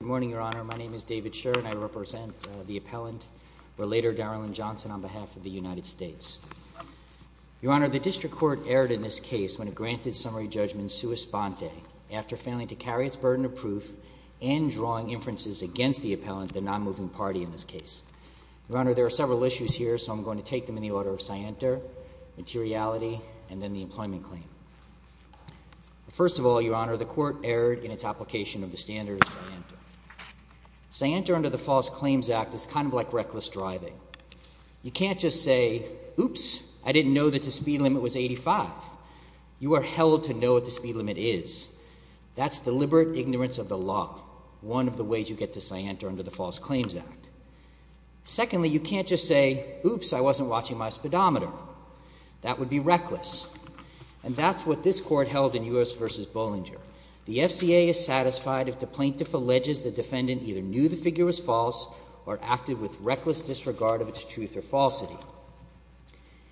Good morning, Your Honor. My name is David Sher, and I represent the appellant, or later Darilyn Johnson, on behalf of the United States. Your Honor, the District Court erred in this case when it granted summary judgment sua sponte after failing to carry its burden of proof and drawing inferences against the appellant, the non-moving party in this case. Your Honor, there are several issues here, so I'm going to take them in the order of scienter, materiality, and then the employment claim. First of all, Your Honor, the Court erred in its application of the standard of scienter. Scienter under the False Claims Act is kind of like reckless driving. You can't just say, oops, I didn't know that the speed limit was 85. You are held to know what the speed limit is. That's deliberate ignorance of the law, one of the ways you get to scienter under the False Claims Act. Secondly, you can't just say, oops, I wasn't watching my speedometer. That would be reckless. And that's what this Court held in U.S. v. Bollinger. The FCA is satisfied if the plaintiff alleges the defendant either knew the figure was false or acted with reckless disregard of its truth or falsity.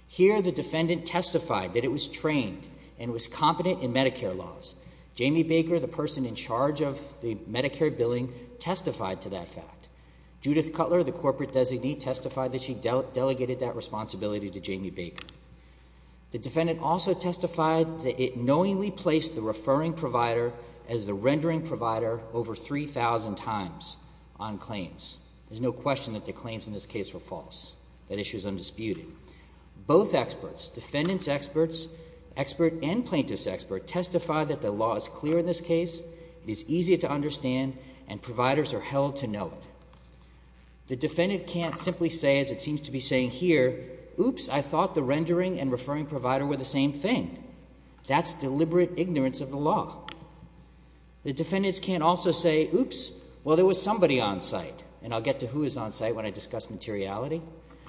Here, the defendant testified that it was trained and was competent in Medicare laws. Jamie Baker, the person in charge of the Medicare billing, testified to that fact. Judith Cutler, the corporate designee, testified that she delegated that responsibility to Jamie Baker. The defendant also testified that it knowingly placed the referring provider as the rendering provider over 3,000 times on claims. There's no question that the claims in this case were false. That issue is undisputed. Both experts, defendant's experts, expert and plaintiff's expert, testified that the law is clear in this case, it is easy to understand, and providers are held to know it. The defendant can't simply say, as it seems to be saying here, oops, I thought the rendering and referring provider were the same thing. That's deliberate ignorance of the law. The defendants can't also say, oops, well, there was somebody on site, and I'll get to who is on site when I discuss materiality.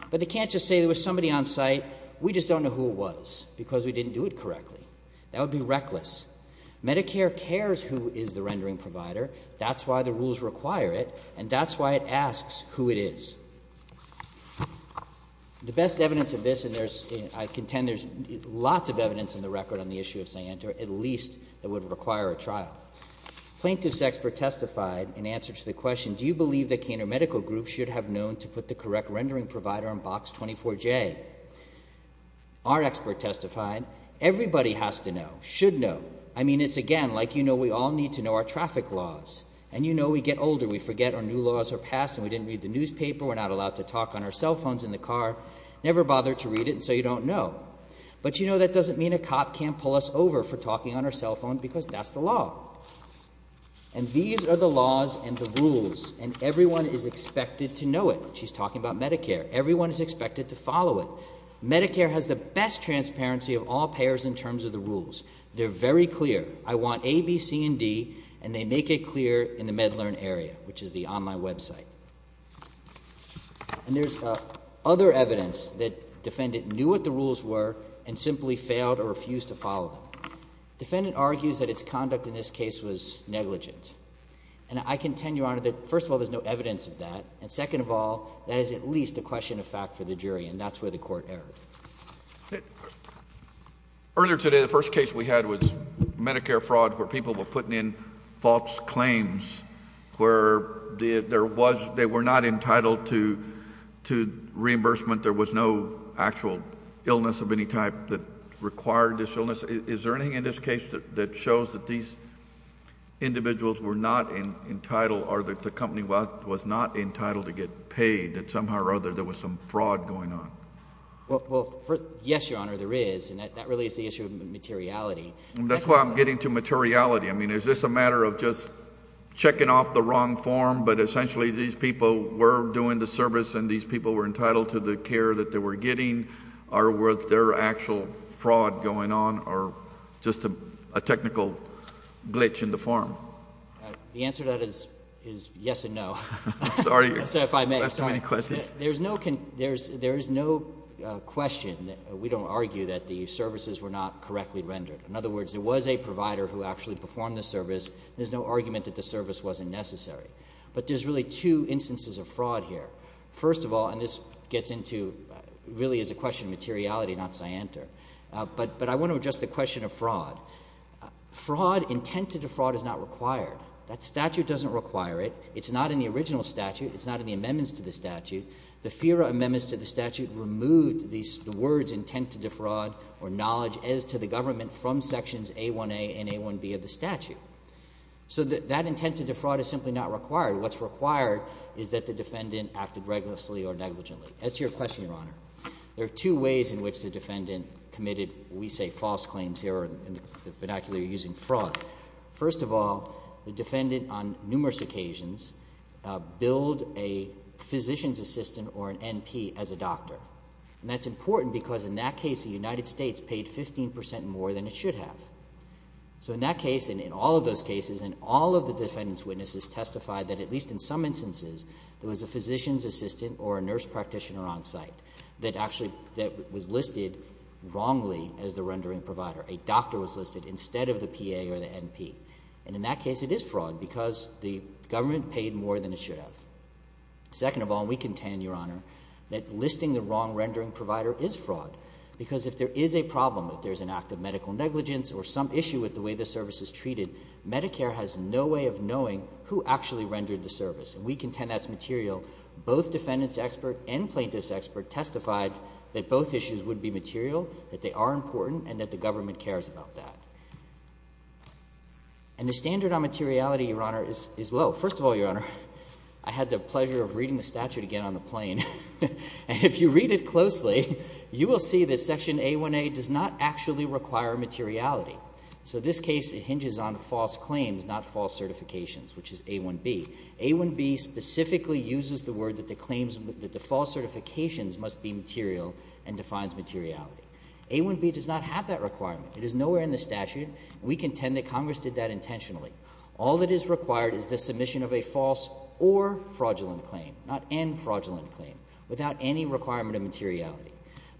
But they can't just say there was somebody on site, we just don't know who it was because we didn't do it correctly. That would be reckless. Medicare cares who is the rendering provider. That's why the I contend there's lots of evidence in the record on the issue of Cyanter, at least that would require a trial. Plaintiff's expert testified in answer to the question, do you believe that Caner Medical Group should have known to put the correct rendering provider on Box 24J? Our expert testified, everybody has to know, should know. I mean, it's again, like you know, we all need to know our traffic laws. And you know, we get older, we forget our new laws are passed, and we didn't read the newspaper, we're not allowed to talk on our cell phones in the car, never bothered to read it, so you don't know. But you know that doesn't mean a cop can't pull us over for talking on our cell phone because that's the law. And these are the laws and the rules, and everyone is expected to know it. She's talking about Medicare. Everyone is expected to follow it. Medicare has the best transparency of all payers in terms of the rules. They're very clear. I want A, B, C, and D, and they get clear in the MedLearn area, which is the online website. And there's other evidence that defendant knew what the rules were and simply failed or refused to follow them. Defendant argues that its conduct in this case was negligent. And I contend, Your Honor, that first of all, there's no evidence of that, and second of all, that is at least a question of fact for the jury, and that's where the Court erred. Earlier today, the first case we had was Medicare fraud, where people were putting in false claims, where they were not entitled to reimbursement. There was no actual illness of any type that required this illness. Is there anything in this case that shows that these individuals were not entitled or that the company was not entitled to get paid, that somehow or other there was some fraud going on? Well, yes, Your Honor, there is, and that really is the issue of materiality. That's why I'm getting to materiality. I mean, is this a matter of just checking off the wrong form, but essentially these people were doing the service and these people were entitled to the care that they were getting, or were there actual fraud going on or just a technical glitch in the form? The answer to that is yes and no. Sorry. If I may, sir. Do you have so many questions? There is no question that we don't argue that the services were not correctly rendered. In other words, there was a provider who actually performed the service. There's no argument that the service wasn't necessary. But there's really two instances of fraud here. First of all, and this gets into really is a question of materiality, not scienter, but I want to address the question of fraud. Fraud, intent to defraud is not required. That statute doesn't require it. It's not in the original statute. It's not in the amendments to the statute. The FIRA amendments to the statute removed the words intent to defraud or knowledge as to the government from sections A1A and A1B of the statute. So that intent to defraud is simply not required. What's required is that the defendant acted recklessly or negligently. As to your question, Your Honor, there are two ways in which the defendant committed, we say false claims here, or in the vernacular using fraud. First of all, the defendant on numerous occasions billed a physician's assistant or an NP as a doctor. And that's important because in that case the United States paid 15 percent more than it should have. So in that case and in all of those cases and all of the defendant's witnesses testified that at least in some instances there was a physician's assistant or a nurse practitioner on site that actually that was listed wrongly as the rendering provider. A doctor was listed instead of the PA or the NP. And in that case it is fraud because the government paid more than it should have. Second of all, and we contend, Your Honor, that listing the wrong rendering provider is fraud because if there is a problem, if there's an act of medical negligence or some issue with the way the service is treated, Medicare has no way of knowing who actually rendered the service. And we contend that's material. Both defendant's expert and plaintiff's expert testified that both issues would be material, that they are important, and that the government cares about that. And the standard on materiality, Your Honor, is low. First of all, Your Honor, I had the pleasure of reading the statute again on the plane. And if you read it closely, you will see that Section A1A does not actually require materiality. So this case it hinges on false claims, not false certifications, which is A1B. A1B specifically uses the word that the claims that the false certifications must be material and defines materiality. A1B does not have that requirement. It is nowhere in the statute, and we contend that Congress did that intentionally. All that is required is the submission of a false or fraudulent claim, not an fraudulent claim, without any requirement of materiality.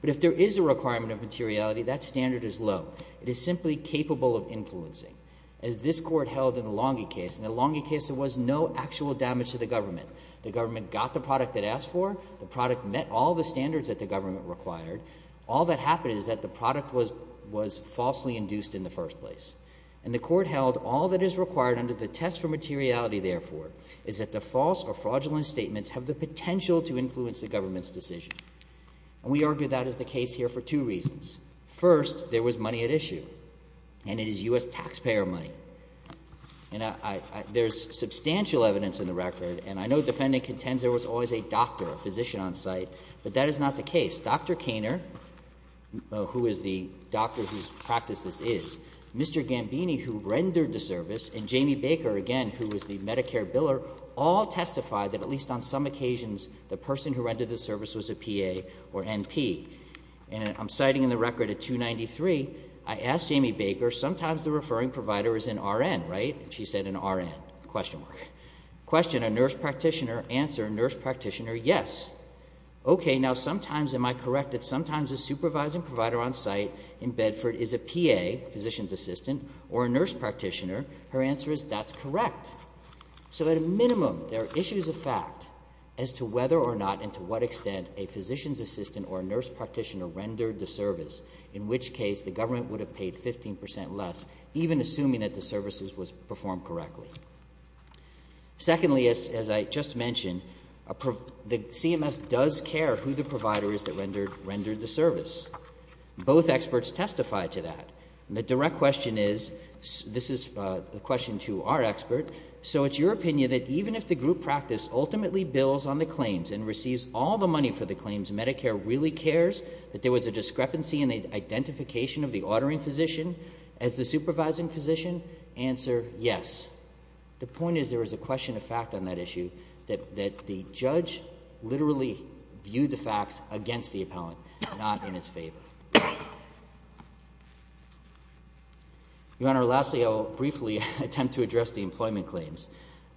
But if there is a requirement of materiality, that standard is low. It is simply capable of influencing. As this Court held in the Longey case, in the Longey case there was no actual damage to the government. The government got the standards that the government required. All that happened is that the product was falsely induced in the first place. And the Court held all that is required under the test for materiality, therefore, is that the false or fraudulent statements have the potential to influence the government's decision. And we argue that is the case here for two reasons. First, there was money at issue, and it is U.S. taxpayer money. And there is substantial evidence in the record, and I know the defendant contends there was always a doctor, a physician on site, but that is not the case. Dr. Koehner, who is the doctor whose practice this is, Mr. Gambini, who rendered the service, and Jamie Baker, again, who was the Medicare biller, all testified that at least on some occasions the person who rendered the service was a PA or NP. And I'm citing in the record at 293, I asked Jamie Baker, sometimes the referring provider is an RN, right? She said an RN, question mark. Question, a nurse practitioner, answer, a nurse practitioner, yes. Okay. Now, sometimes am I correct that sometimes a supervising provider on site in Bedford is a PA, physician's assistant, or a nurse practitioner. Her answer is that's correct. So at a minimum, there are issues of fact as to whether or not and to what extent a physician's assistant or a nurse practitioner rendered the service, in which case the government would have paid 15 percent less, even assuming that the services were performed correctly. Secondly, as I just mentioned, the CMS does care who the provider is that rendered the service. Both experts testified to that. And the direct question is, this is a question to our expert, so it's your opinion that even if the group practice ultimately bills on the claims and receives all the money for the claims, Medicare really cares that there was a discrepancy in the identification of the ordering physician as the supervising physician, answer, yes. The point is there was a question of fact on that issue that the judge literally viewed the facts against the appellant, not in its favor. Your Honor, lastly, I'll briefly attempt to address the employment claims.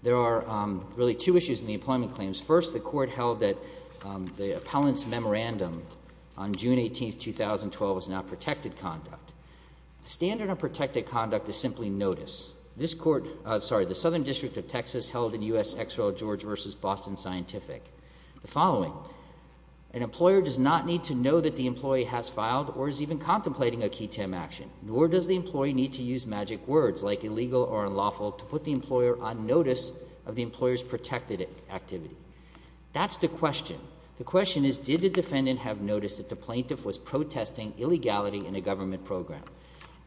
There are really two issues in the employment claims. First, the Court last memorandum on June 18, 2012, is now protected conduct. The standard of protected conduct is simply notice. This Court, sorry, the Southern District of Texas held in U.S. Exera George v. Boston Scientific, the following, an employer does not need to know that the employee has filed or is even contemplating a key TEM action, nor does the employee need to use magic words like illegal or unlawful to put the employer on notice of the employer's protected activity. That's the question. The question is, did the defendant have noticed that the plaintiff was protesting illegality in a government program?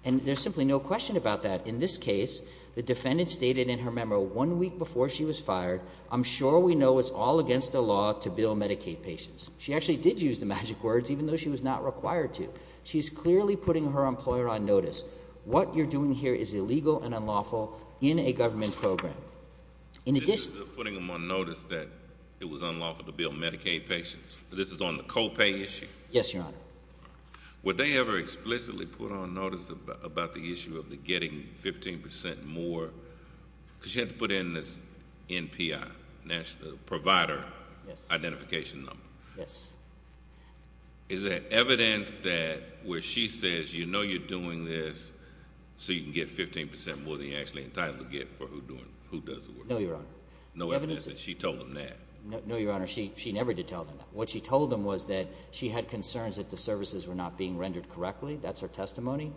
And there's simply no question about that. In this case, the defendant stated in her memo one week before she was fired, I'm sure we know it's all against the law to bill Medicaid patients. She actually did use the magic words, even though she was not required to. She's clearly putting her employer on notice. What you're doing here is illegal and unlawful in a government program. In addition— They're putting them on notice that it was unlawful to bill Medicaid patients. This is on the co-pay issue? Yes, Your Honor. Were they ever explicitly put on notice about the issue of the getting 15 percent more? Because you had to put in this NPI, National Provider Identification Number. Yes. Is there evidence that where she says, you know you're doing this, so you can get 15 percent more than you're actually entitled to get for who does the work? No, Your Honor. No evidence that she told them that? No, Your Honor. She never did tell them that. What she told them was that she had concerns that the services were not being rendered correctly. That's her testimony.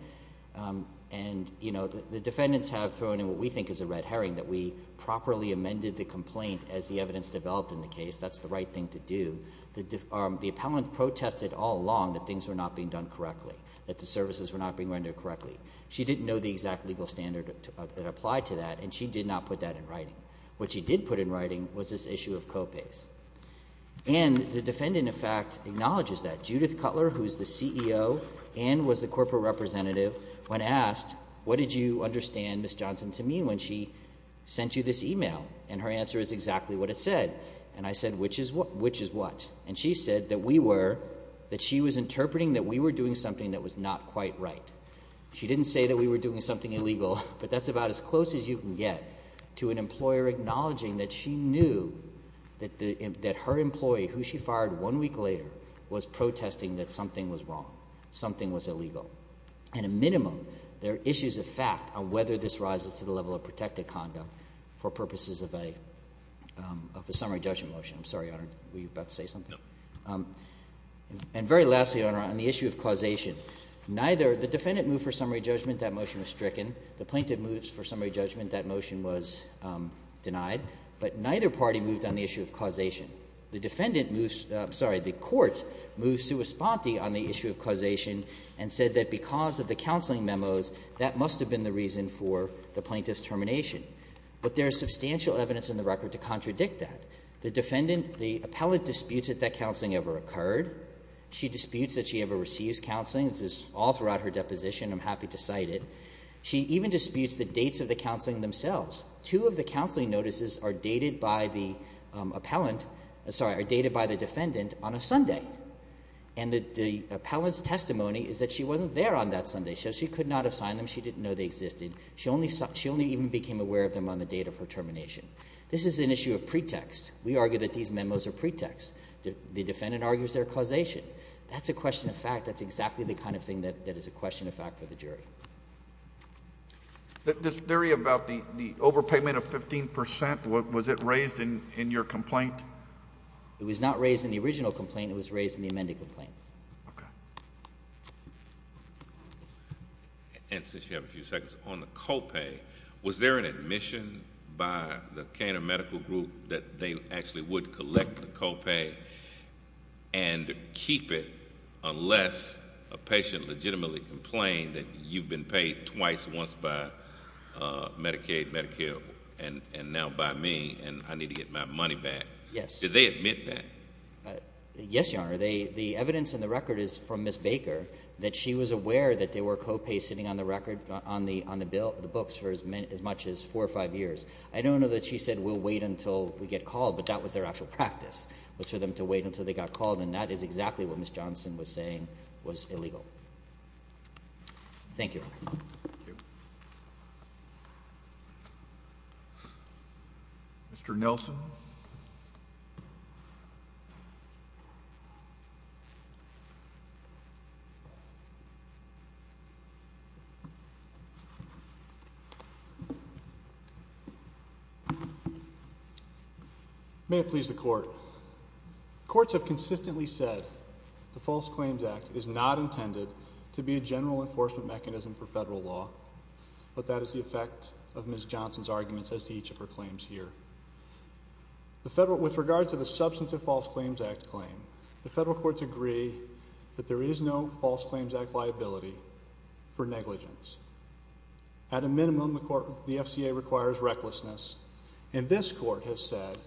And the defendants have thrown in what we think is a red herring, that we properly amended the complaint as the evidence developed in the case. That's the right thing to do. The appellant protested all along that things were not being done correctly, that the services were not being rendered correctly, and that there was no legal standard that applied to that, and she did not put that in writing. What she did put in writing was this issue of co-pays. And the defendant, in fact, acknowledges that. Judith Cutler, who is the CEO and was the corporate representative, when asked, what did you understand Ms. Johnson to mean when she sent you this e-mail? And her answer is exactly what it said. And I said, which is what? And she said that we were, that she was interpreting that we were doing something that was not quite right. She didn't say that we were doing something illegal, but that's about as close as you can get to an employer acknowledging that she knew that the, that her employee, who she fired one week later, was protesting that something was wrong, something was illegal. At a minimum, there are issues of fact on whether this rises to the level of protective conduct for purposes of a, of a summary judgment motion. I'm sorry, Your Honor, on the issue of causation. Neither, the defendant moved for summary judgment, that motion was stricken. The plaintiff moved for summary judgment, that motion was denied. But neither party moved on the issue of causation. The defendant moves, I'm sorry, the Court moved sua sponte on the issue of causation and said that because of the counseling memos, that must have been the reason for the plaintiff's termination. But there is substantial evidence in the record to contradict that. The defendant, the appellate disputes if that counseling ever occurred. She disputes that she ever receives counseling. This is all throughout her deposition. I'm happy to cite it. She even disputes the dates of the counseling themselves. Two of the counseling notices are dated by the appellant, sorry, are dated by the defendant on a Sunday. And the, the appellant's testimony is that she wasn't there on that Sunday, so she could not have signed them. She didn't know they existed. She only, she only even became aware of them on the date of her termination. This is an issue of pretext. We argue that these memos are pretext. The defendant argues they're causation. That's a question of fact. That's exactly the kind of thing that, that is a question of fact for the jury. This theory about the, the overpayment of 15 percent, what, was it raised in, in your complaint? It was not raised in the original complaint. It was raised in the amended complaint. Okay. And since you have a few seconds, on the co-pay, was there an admission by the Canada Medical Group that they actually would collect the co-pay and keep it unless a patient legitimately complained that you've been paid twice, once by Medicaid, Medicare, and, and now by me, and I need to get my money back? Yes. Did they admit that? Yes, Your Honor. They, the evidence in the record is from Ms. Baker, that she was aware that there were co-pays sitting on the record, on the, on the bill, the books for as many, as much as four or five years. I don't know that she said, we'll wait until we get called, but that was their actual practice, was for them to wait until they got called, and that is exactly what Ms. Johnson was saying was illegal. Thank you, Your Honor. Thank you. Mr. Nelson. May it please the Court. Courts have consistently said the False Claims Act is not intended to be a general enforcement mechanism for federal law, but that is the effect of Ms. With regard to the substantive False Claims Act claim, the federal courts agree that there is no False Claims Act liability for negligence. At a minimum, the court, the FCA requires recklessness, and this Court has said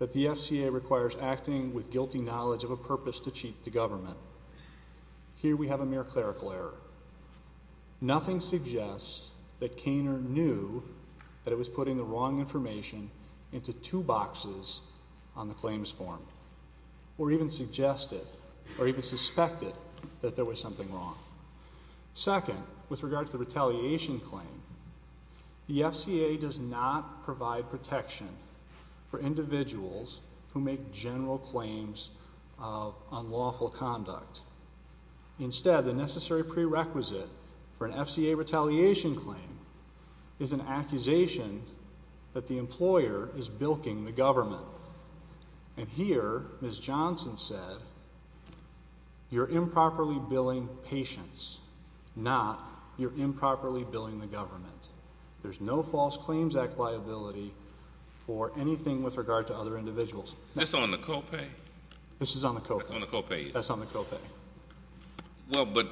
that the FCA requires acting with guilty knowledge of a purpose to cheat the government. Here we have a mere clerical error. Nothing suggests that Caner knew that it was putting the wrong information into two boxes on the claims form, or even suggested, or even suspected that there was something wrong. Second, with regard to the retaliation claim, the FCA does not provide protection for individuals who make general claims of unlawful conduct. Instead, the necessary prerequisite for an retaliation claim is an accusation that the employer is bilking the government. And here, Ms. Johnson said, you're improperly billing patients, not you're improperly billing the government. There's no False Claims Act liability for anything with regard to other individuals. Is this on the copay? This is on the copay. That's on the copay. Well, but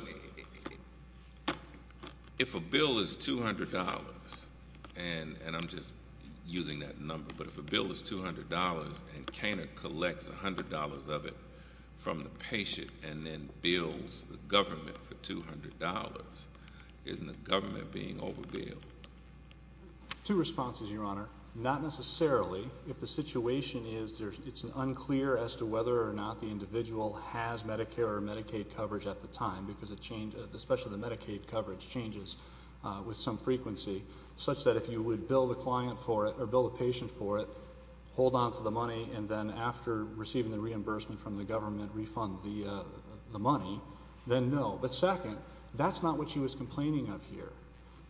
if a bill is $200, and I'm just using that number, but if a bill is $200 and Caner collects $100 of it from the patient and then bills the government for $200, isn't the government being overbilled? Two responses, Your Honor. Not necessarily. If the situation is it's unclear as to whether or not the individual has Medicare or Medicaid coverage at the time, because especially the Medicaid coverage changes with some frequency, such that if you would bill the client for it, or bill the patient for it, hold on to the money, and then after receiving the reimbursement from the government, refund the money, then no. But second, that's not what she was complaining of here.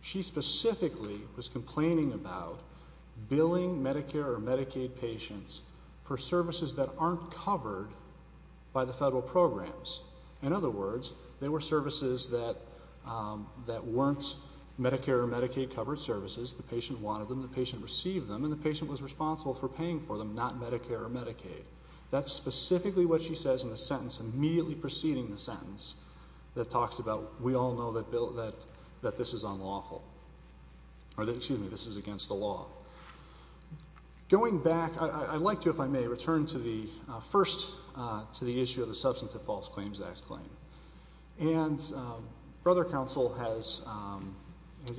She specifically was complaining about billing Medicare or Medicaid patients for services that aren't covered by the federal programs. In other words, they were services that weren't Medicare or Medicaid covered services. The patient wanted them, the patient received them, and the patient was responsible for paying for them, not Medicare or Medicaid. That's specifically what she says in the sentence immediately preceding the sentence that talks about we all know that this is against the law. Going back, I'd like to, if I may, return first to the issue of the Substantive False Claims Act claim. And Brother Counsel has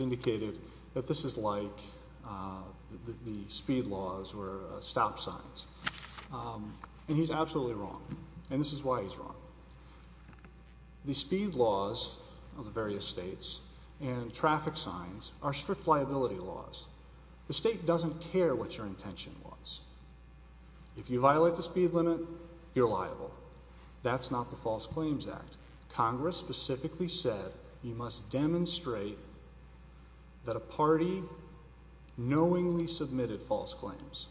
indicated that this is like the speed laws or stop signs. And he's absolutely wrong. And this is why he's wrong. The speed laws of the various states and traffic signs are strict liability laws. The state doesn't care what your intention was. If you violate the speed limit, you're liable. That's not the False Claims Act. Congress specifically said you must demonstrate that a party knowingly submitted false claims.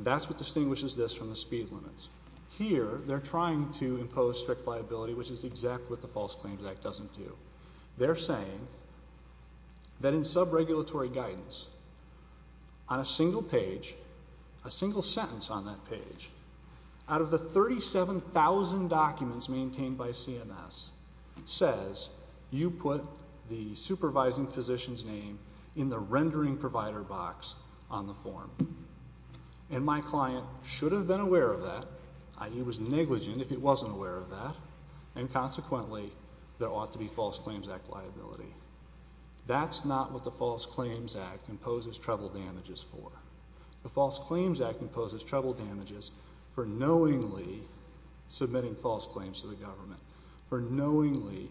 That's what distinguishes this from the speed limits. Here, they're trying to impose strict liability, which is exactly what the False Claims Act doesn't do. They're saying that in sub-regulatory guidance, on a single page, a single sentence on that page, out of the 37,000 documents maintained by CMS, says you put the supervising physician's name in the rendering provider box on the form. And my client should have been aware of that, i.e., was negligent if he wasn't aware of that. And consequently, there ought to be False Claims Act liability. That's not what the False Claims Act imposes treble damages for. The False Claims Act imposes treble damages for knowingly submitting false claims to the government, for knowingly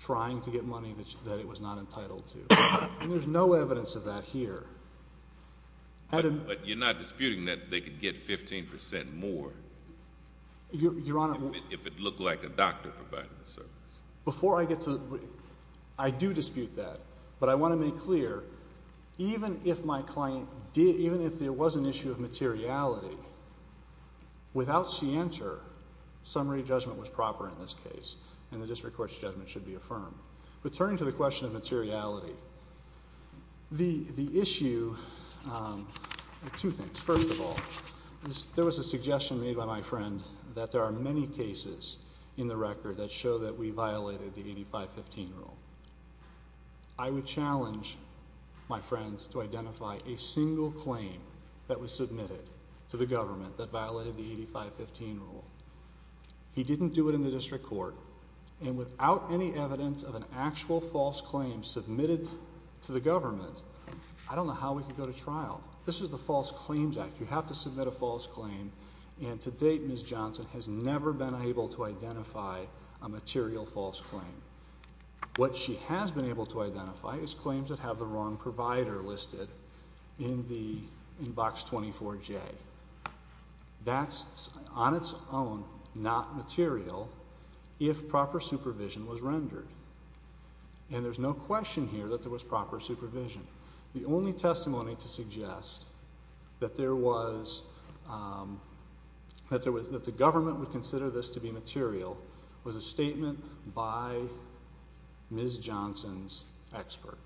trying to get money that it was not entitled to. And there's no evidence of that here. But you're not disputing that they could get 15 percent more if it looked like a doctor provided the service? Before I get to that, I do dispute that. But I want to make clear, even if my client did, even if there was an issue of materiality, without scienter, summary judgment was proper in this case, and the district court's judgment should be affirmed. But turning to the question of materiality, the issue, two things. First of all, there was a suggestion made by my friend that there are many cases in the record that show that we violated the 85-15 rule. I would challenge my friend to identify a single claim that was submitted to the government that violated the 85-15 rule. He didn't do it in the district court. And without any evidence of an actual false claim submitted to the government, I don't know how we could go to trial. This is the False Claims Act. You have to submit a false claim. And to date, Ms. Johnson has never been able to identify a material false claim. What she has been able to identify is claims that have the wrong provider listed in the Inbox 24-J. That's on its own not material, but it's not a material claim. If proper supervision was rendered. And there's no question here that there was proper supervision. The only testimony to suggest that there was, that the government would consider this to be material was a statement by Ms. Johnson's expert,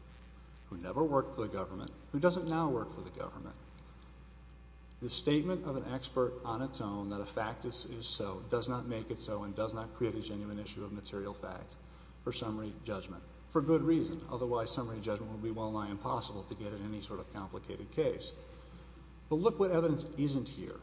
who never worked for the government, who doesn't now work for the government. The statement of an expert on its own that a fact is so, does not make it so, and does not create a genuine issue of material fact for summary judgment. For good reason. Otherwise, summary judgment would be well-nigh impossible to get in any sort of complicated case. But look what evidence isn't here.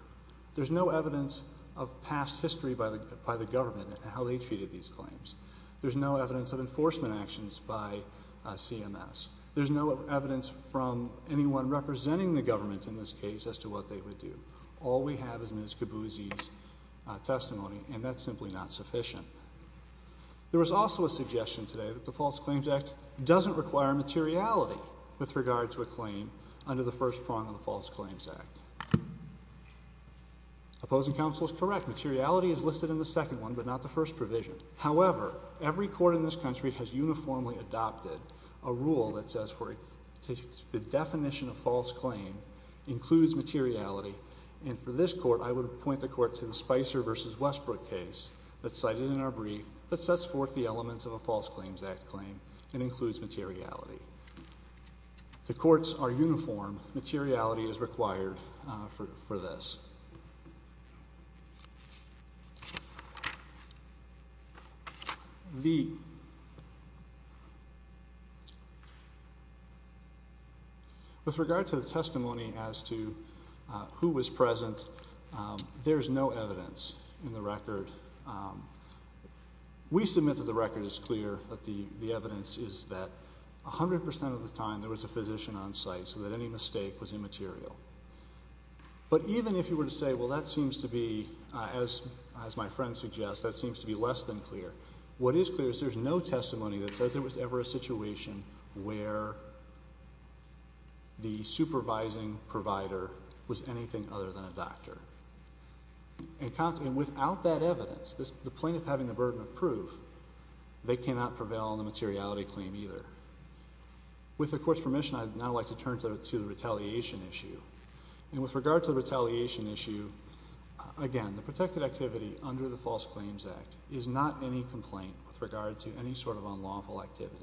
There's no evidence of past history by the government and how they treated these claims. There's no evidence of enforcement actions by CMS. There's no evidence from anyone representing the government in this case as to what they would do. All we have is Ms. Cabuzzi's testimony, and that's simply not sufficient. There was also a suggestion today that the False Claims Act doesn't require materiality with regard to a claim under the first prong of the False Claims Act. Opposing counsel is correct. Materiality is listed in the second one, but not the first provision. However, every court in this country has uniformly adopted a rule that says for the definition of false claim includes materiality. And for this court, I would point the court to the Spicer v. Westbrook case that's cited in our brief that sets forth the elements of a False Claims Act claim and includes materiality. The courts are uniform. Materiality is required for this. The With regard to the testimony as to who was present, there's no evidence in the record. We submit that the record is clear, that the evidence is that 100% of the time there was a physician on site so that any mistake was immaterial. But even if you were to say, well, that seems to be, as my friend suggests, that seems to be less than clear. What is clear is there's no testimony that says there was ever a situation where the supervising provider was anything other than a doctor. And without that evidence, the plaintiff having the burden of proof, they cannot prevail on the materiality claim either. With the court's permission, I'd now like to turn to the retaliation issue. And with regard to the retaliation issue, again, the protected activity under the False Claims Act is not any complaint with regard to any sort of unlawful activity.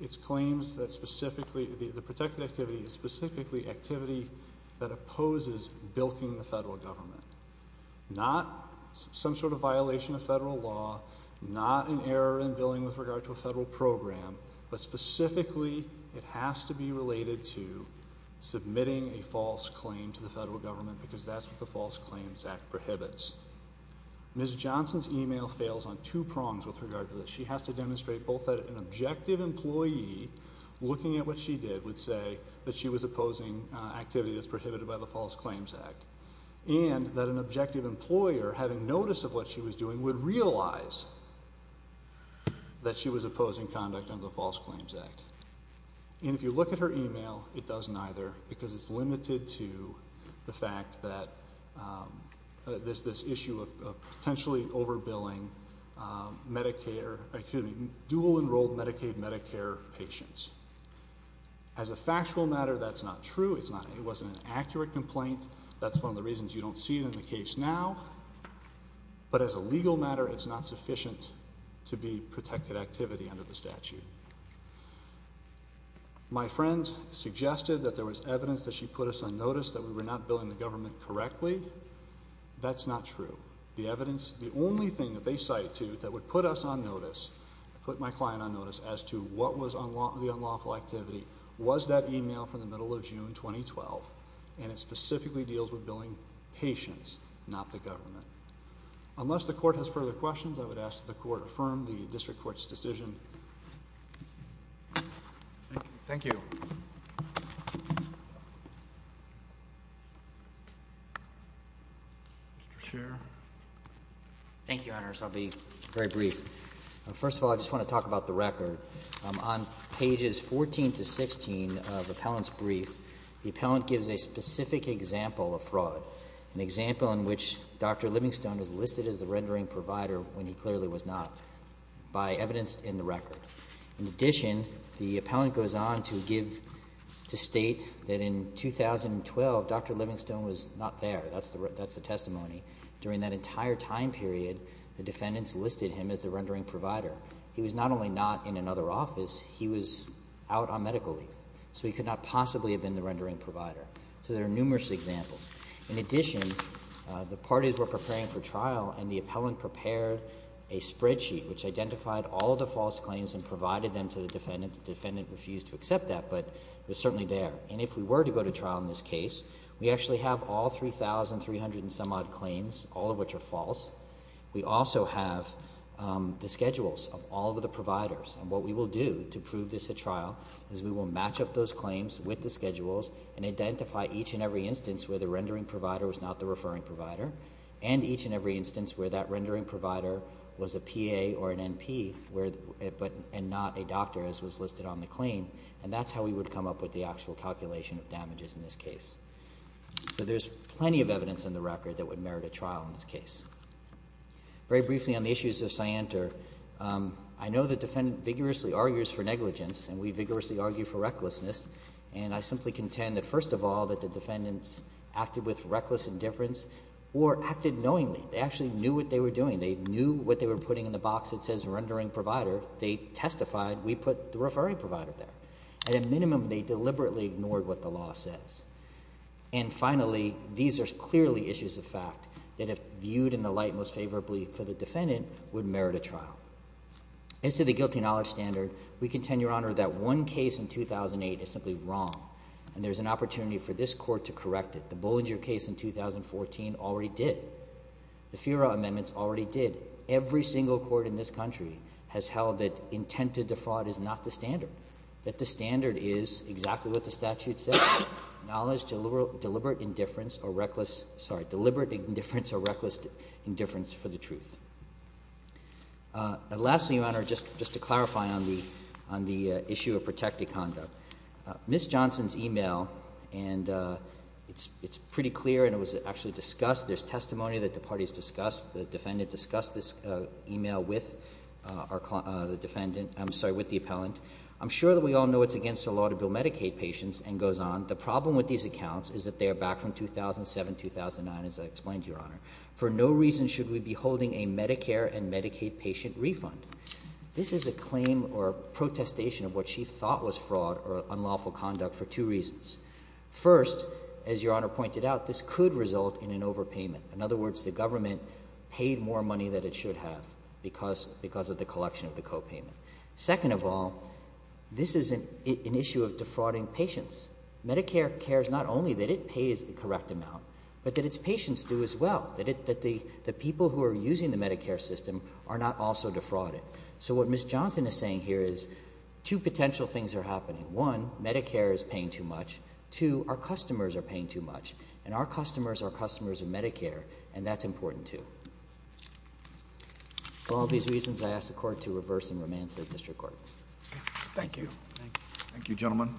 It's claims that specifically, the protected activity is specifically activity that opposes bilking the federal government. Not some sort of violation of federal law, not an error in billing with regard to a federal program, but specifically it has to be related to submitting a false claim to the federal government because that's what the False Claims Act prohibits. Ms. Johnson's e-mail fails on two prongs with regard to this. She has to demonstrate both that an objective employee, looking at what she did, would say that she was opposing activities prohibited by the False Claims Act, and that an objective employer, having notice of what she was doing, would realize that she was opposing conduct under the False Claims Act. And if you look at her e-mail, it does neither because it's limited to the fact that this issue of potentially over-billing dual-enrolled Medicaid-Medicare patients. As a factual matter, that's not true. It wasn't an accurate complaint. That's one of the reasons you don't see it in the case now. But as a legal matter, it's not sufficient to be protected activity under the statute. My friend suggested that there was evidence that she put us on notice that we were not billing the government correctly. That's not true. The evidence, the only thing that they cite to that would put us on notice, put my client on notice, as to what was the unlawful activity, was that e-mail from the middle of June 2012, and it specifically deals with billing patients, not the government. Unless the Court has further questions, I would ask that the Court affirm the District Attorney's report. Thank you. Thank you, Your Honor, so I'll be very brief. First of all, I just want to talk about the record. On pages 14 to 16 of the appellant's brief, the appellant gives a specific example of fraud, an example in which Dr. Livingstone was listed as the rendering provider when he clearly was not, by evidence in the record. In addition, the appellant goes on to give to State that in 2012, Dr. Livingstone was not there. That's the testimony. During that entire time period, the defendants listed him as the rendering provider. He was not only not in another office, he was out on medical leave. So he could not possibly have been the rendering provider. So there are numerous examples. In addition, the parties were preparing for trial, and the appellant prepared a spreadsheet which identified all of the false claims and provided them to the defendant. The defendant refused to accept that, but it was certainly there. And if we were to go to trial in this case, we actually have all 3,300 and some odd claims, all of which are false. We also have the schedules of all of the providers. And what we will do to prove this at trial is we will match up those claims with the schedules and identify each and every instance where the rendering provider was not the referring provider, and each and every instance where that rendering provider was a PA or an NP and not a doctor, as was listed on the claim. And that's how we would come up with the actual calculation of damages in this case. So there's plenty of evidence in the record that would merit a trial in this case. Very briefly on the issues of Scienter, I know the defendant vigorously argues for negligence and we vigorously argue for recklessness. And I simply contend that, first of all, that the defendants acted with reckless indifference or acted knowingly. They actually knew what they were doing. They knew what they were putting in the box that says rendering provider. They testified. We put the referring provider there. At a minimum, they deliberately ignored what the law says. And finally, these are clearly issues of fact that, if viewed in the light most favorably for the defendant, would merit a trial. As to the guilty knowledge standard, we contend, Your Honor, that one case in 2008 is simply wrong. And there's an opportunity for this Court to correct it. The Bollinger case in 2014 already did. The FIRA amendments already did. Every single court in this country has held that intent to defraud is not the standard, that the standard is exactly what the statute says, deliberate indifference or reckless indifference for the truth. And lastly, Your Honor, just to clarify on the issue of protected conduct, Ms. Johnson's e-mail, and it's pretty clear and it was actually discussed, there's testimony that the parties discussed, the defendant discussed this e-mail with the defendant, I'm sorry, with the appellant. I'm sure that we all know it's against the law to bill Medicaid patients and goes on. The problem with these accounts is that they are back from 2007, 2009, as I explained to you, Medicare and Medicaid patient refund. This is a claim or a protestation of what she thought was fraud or unlawful conduct for two reasons. First, as Your Honor pointed out, this could result in an overpayment. In other words, the government paid more money than it should have because of the collection of the copayment. Second of all, this is an issue of defrauding patients. Medicare cares not only that it pays the correct amount but that its patients do as well, that the people who are using the Medicare system are not also defrauded. So what Ms. Johnson is saying here is two potential things are happening. One, Medicare is paying too much. Two, our customers are paying too much, and our customers are customers of Medicare, and that's important too. For all these reasons, I ask the Court to reverse and remand to the District Court. Thank you. Thank you, gentlemen.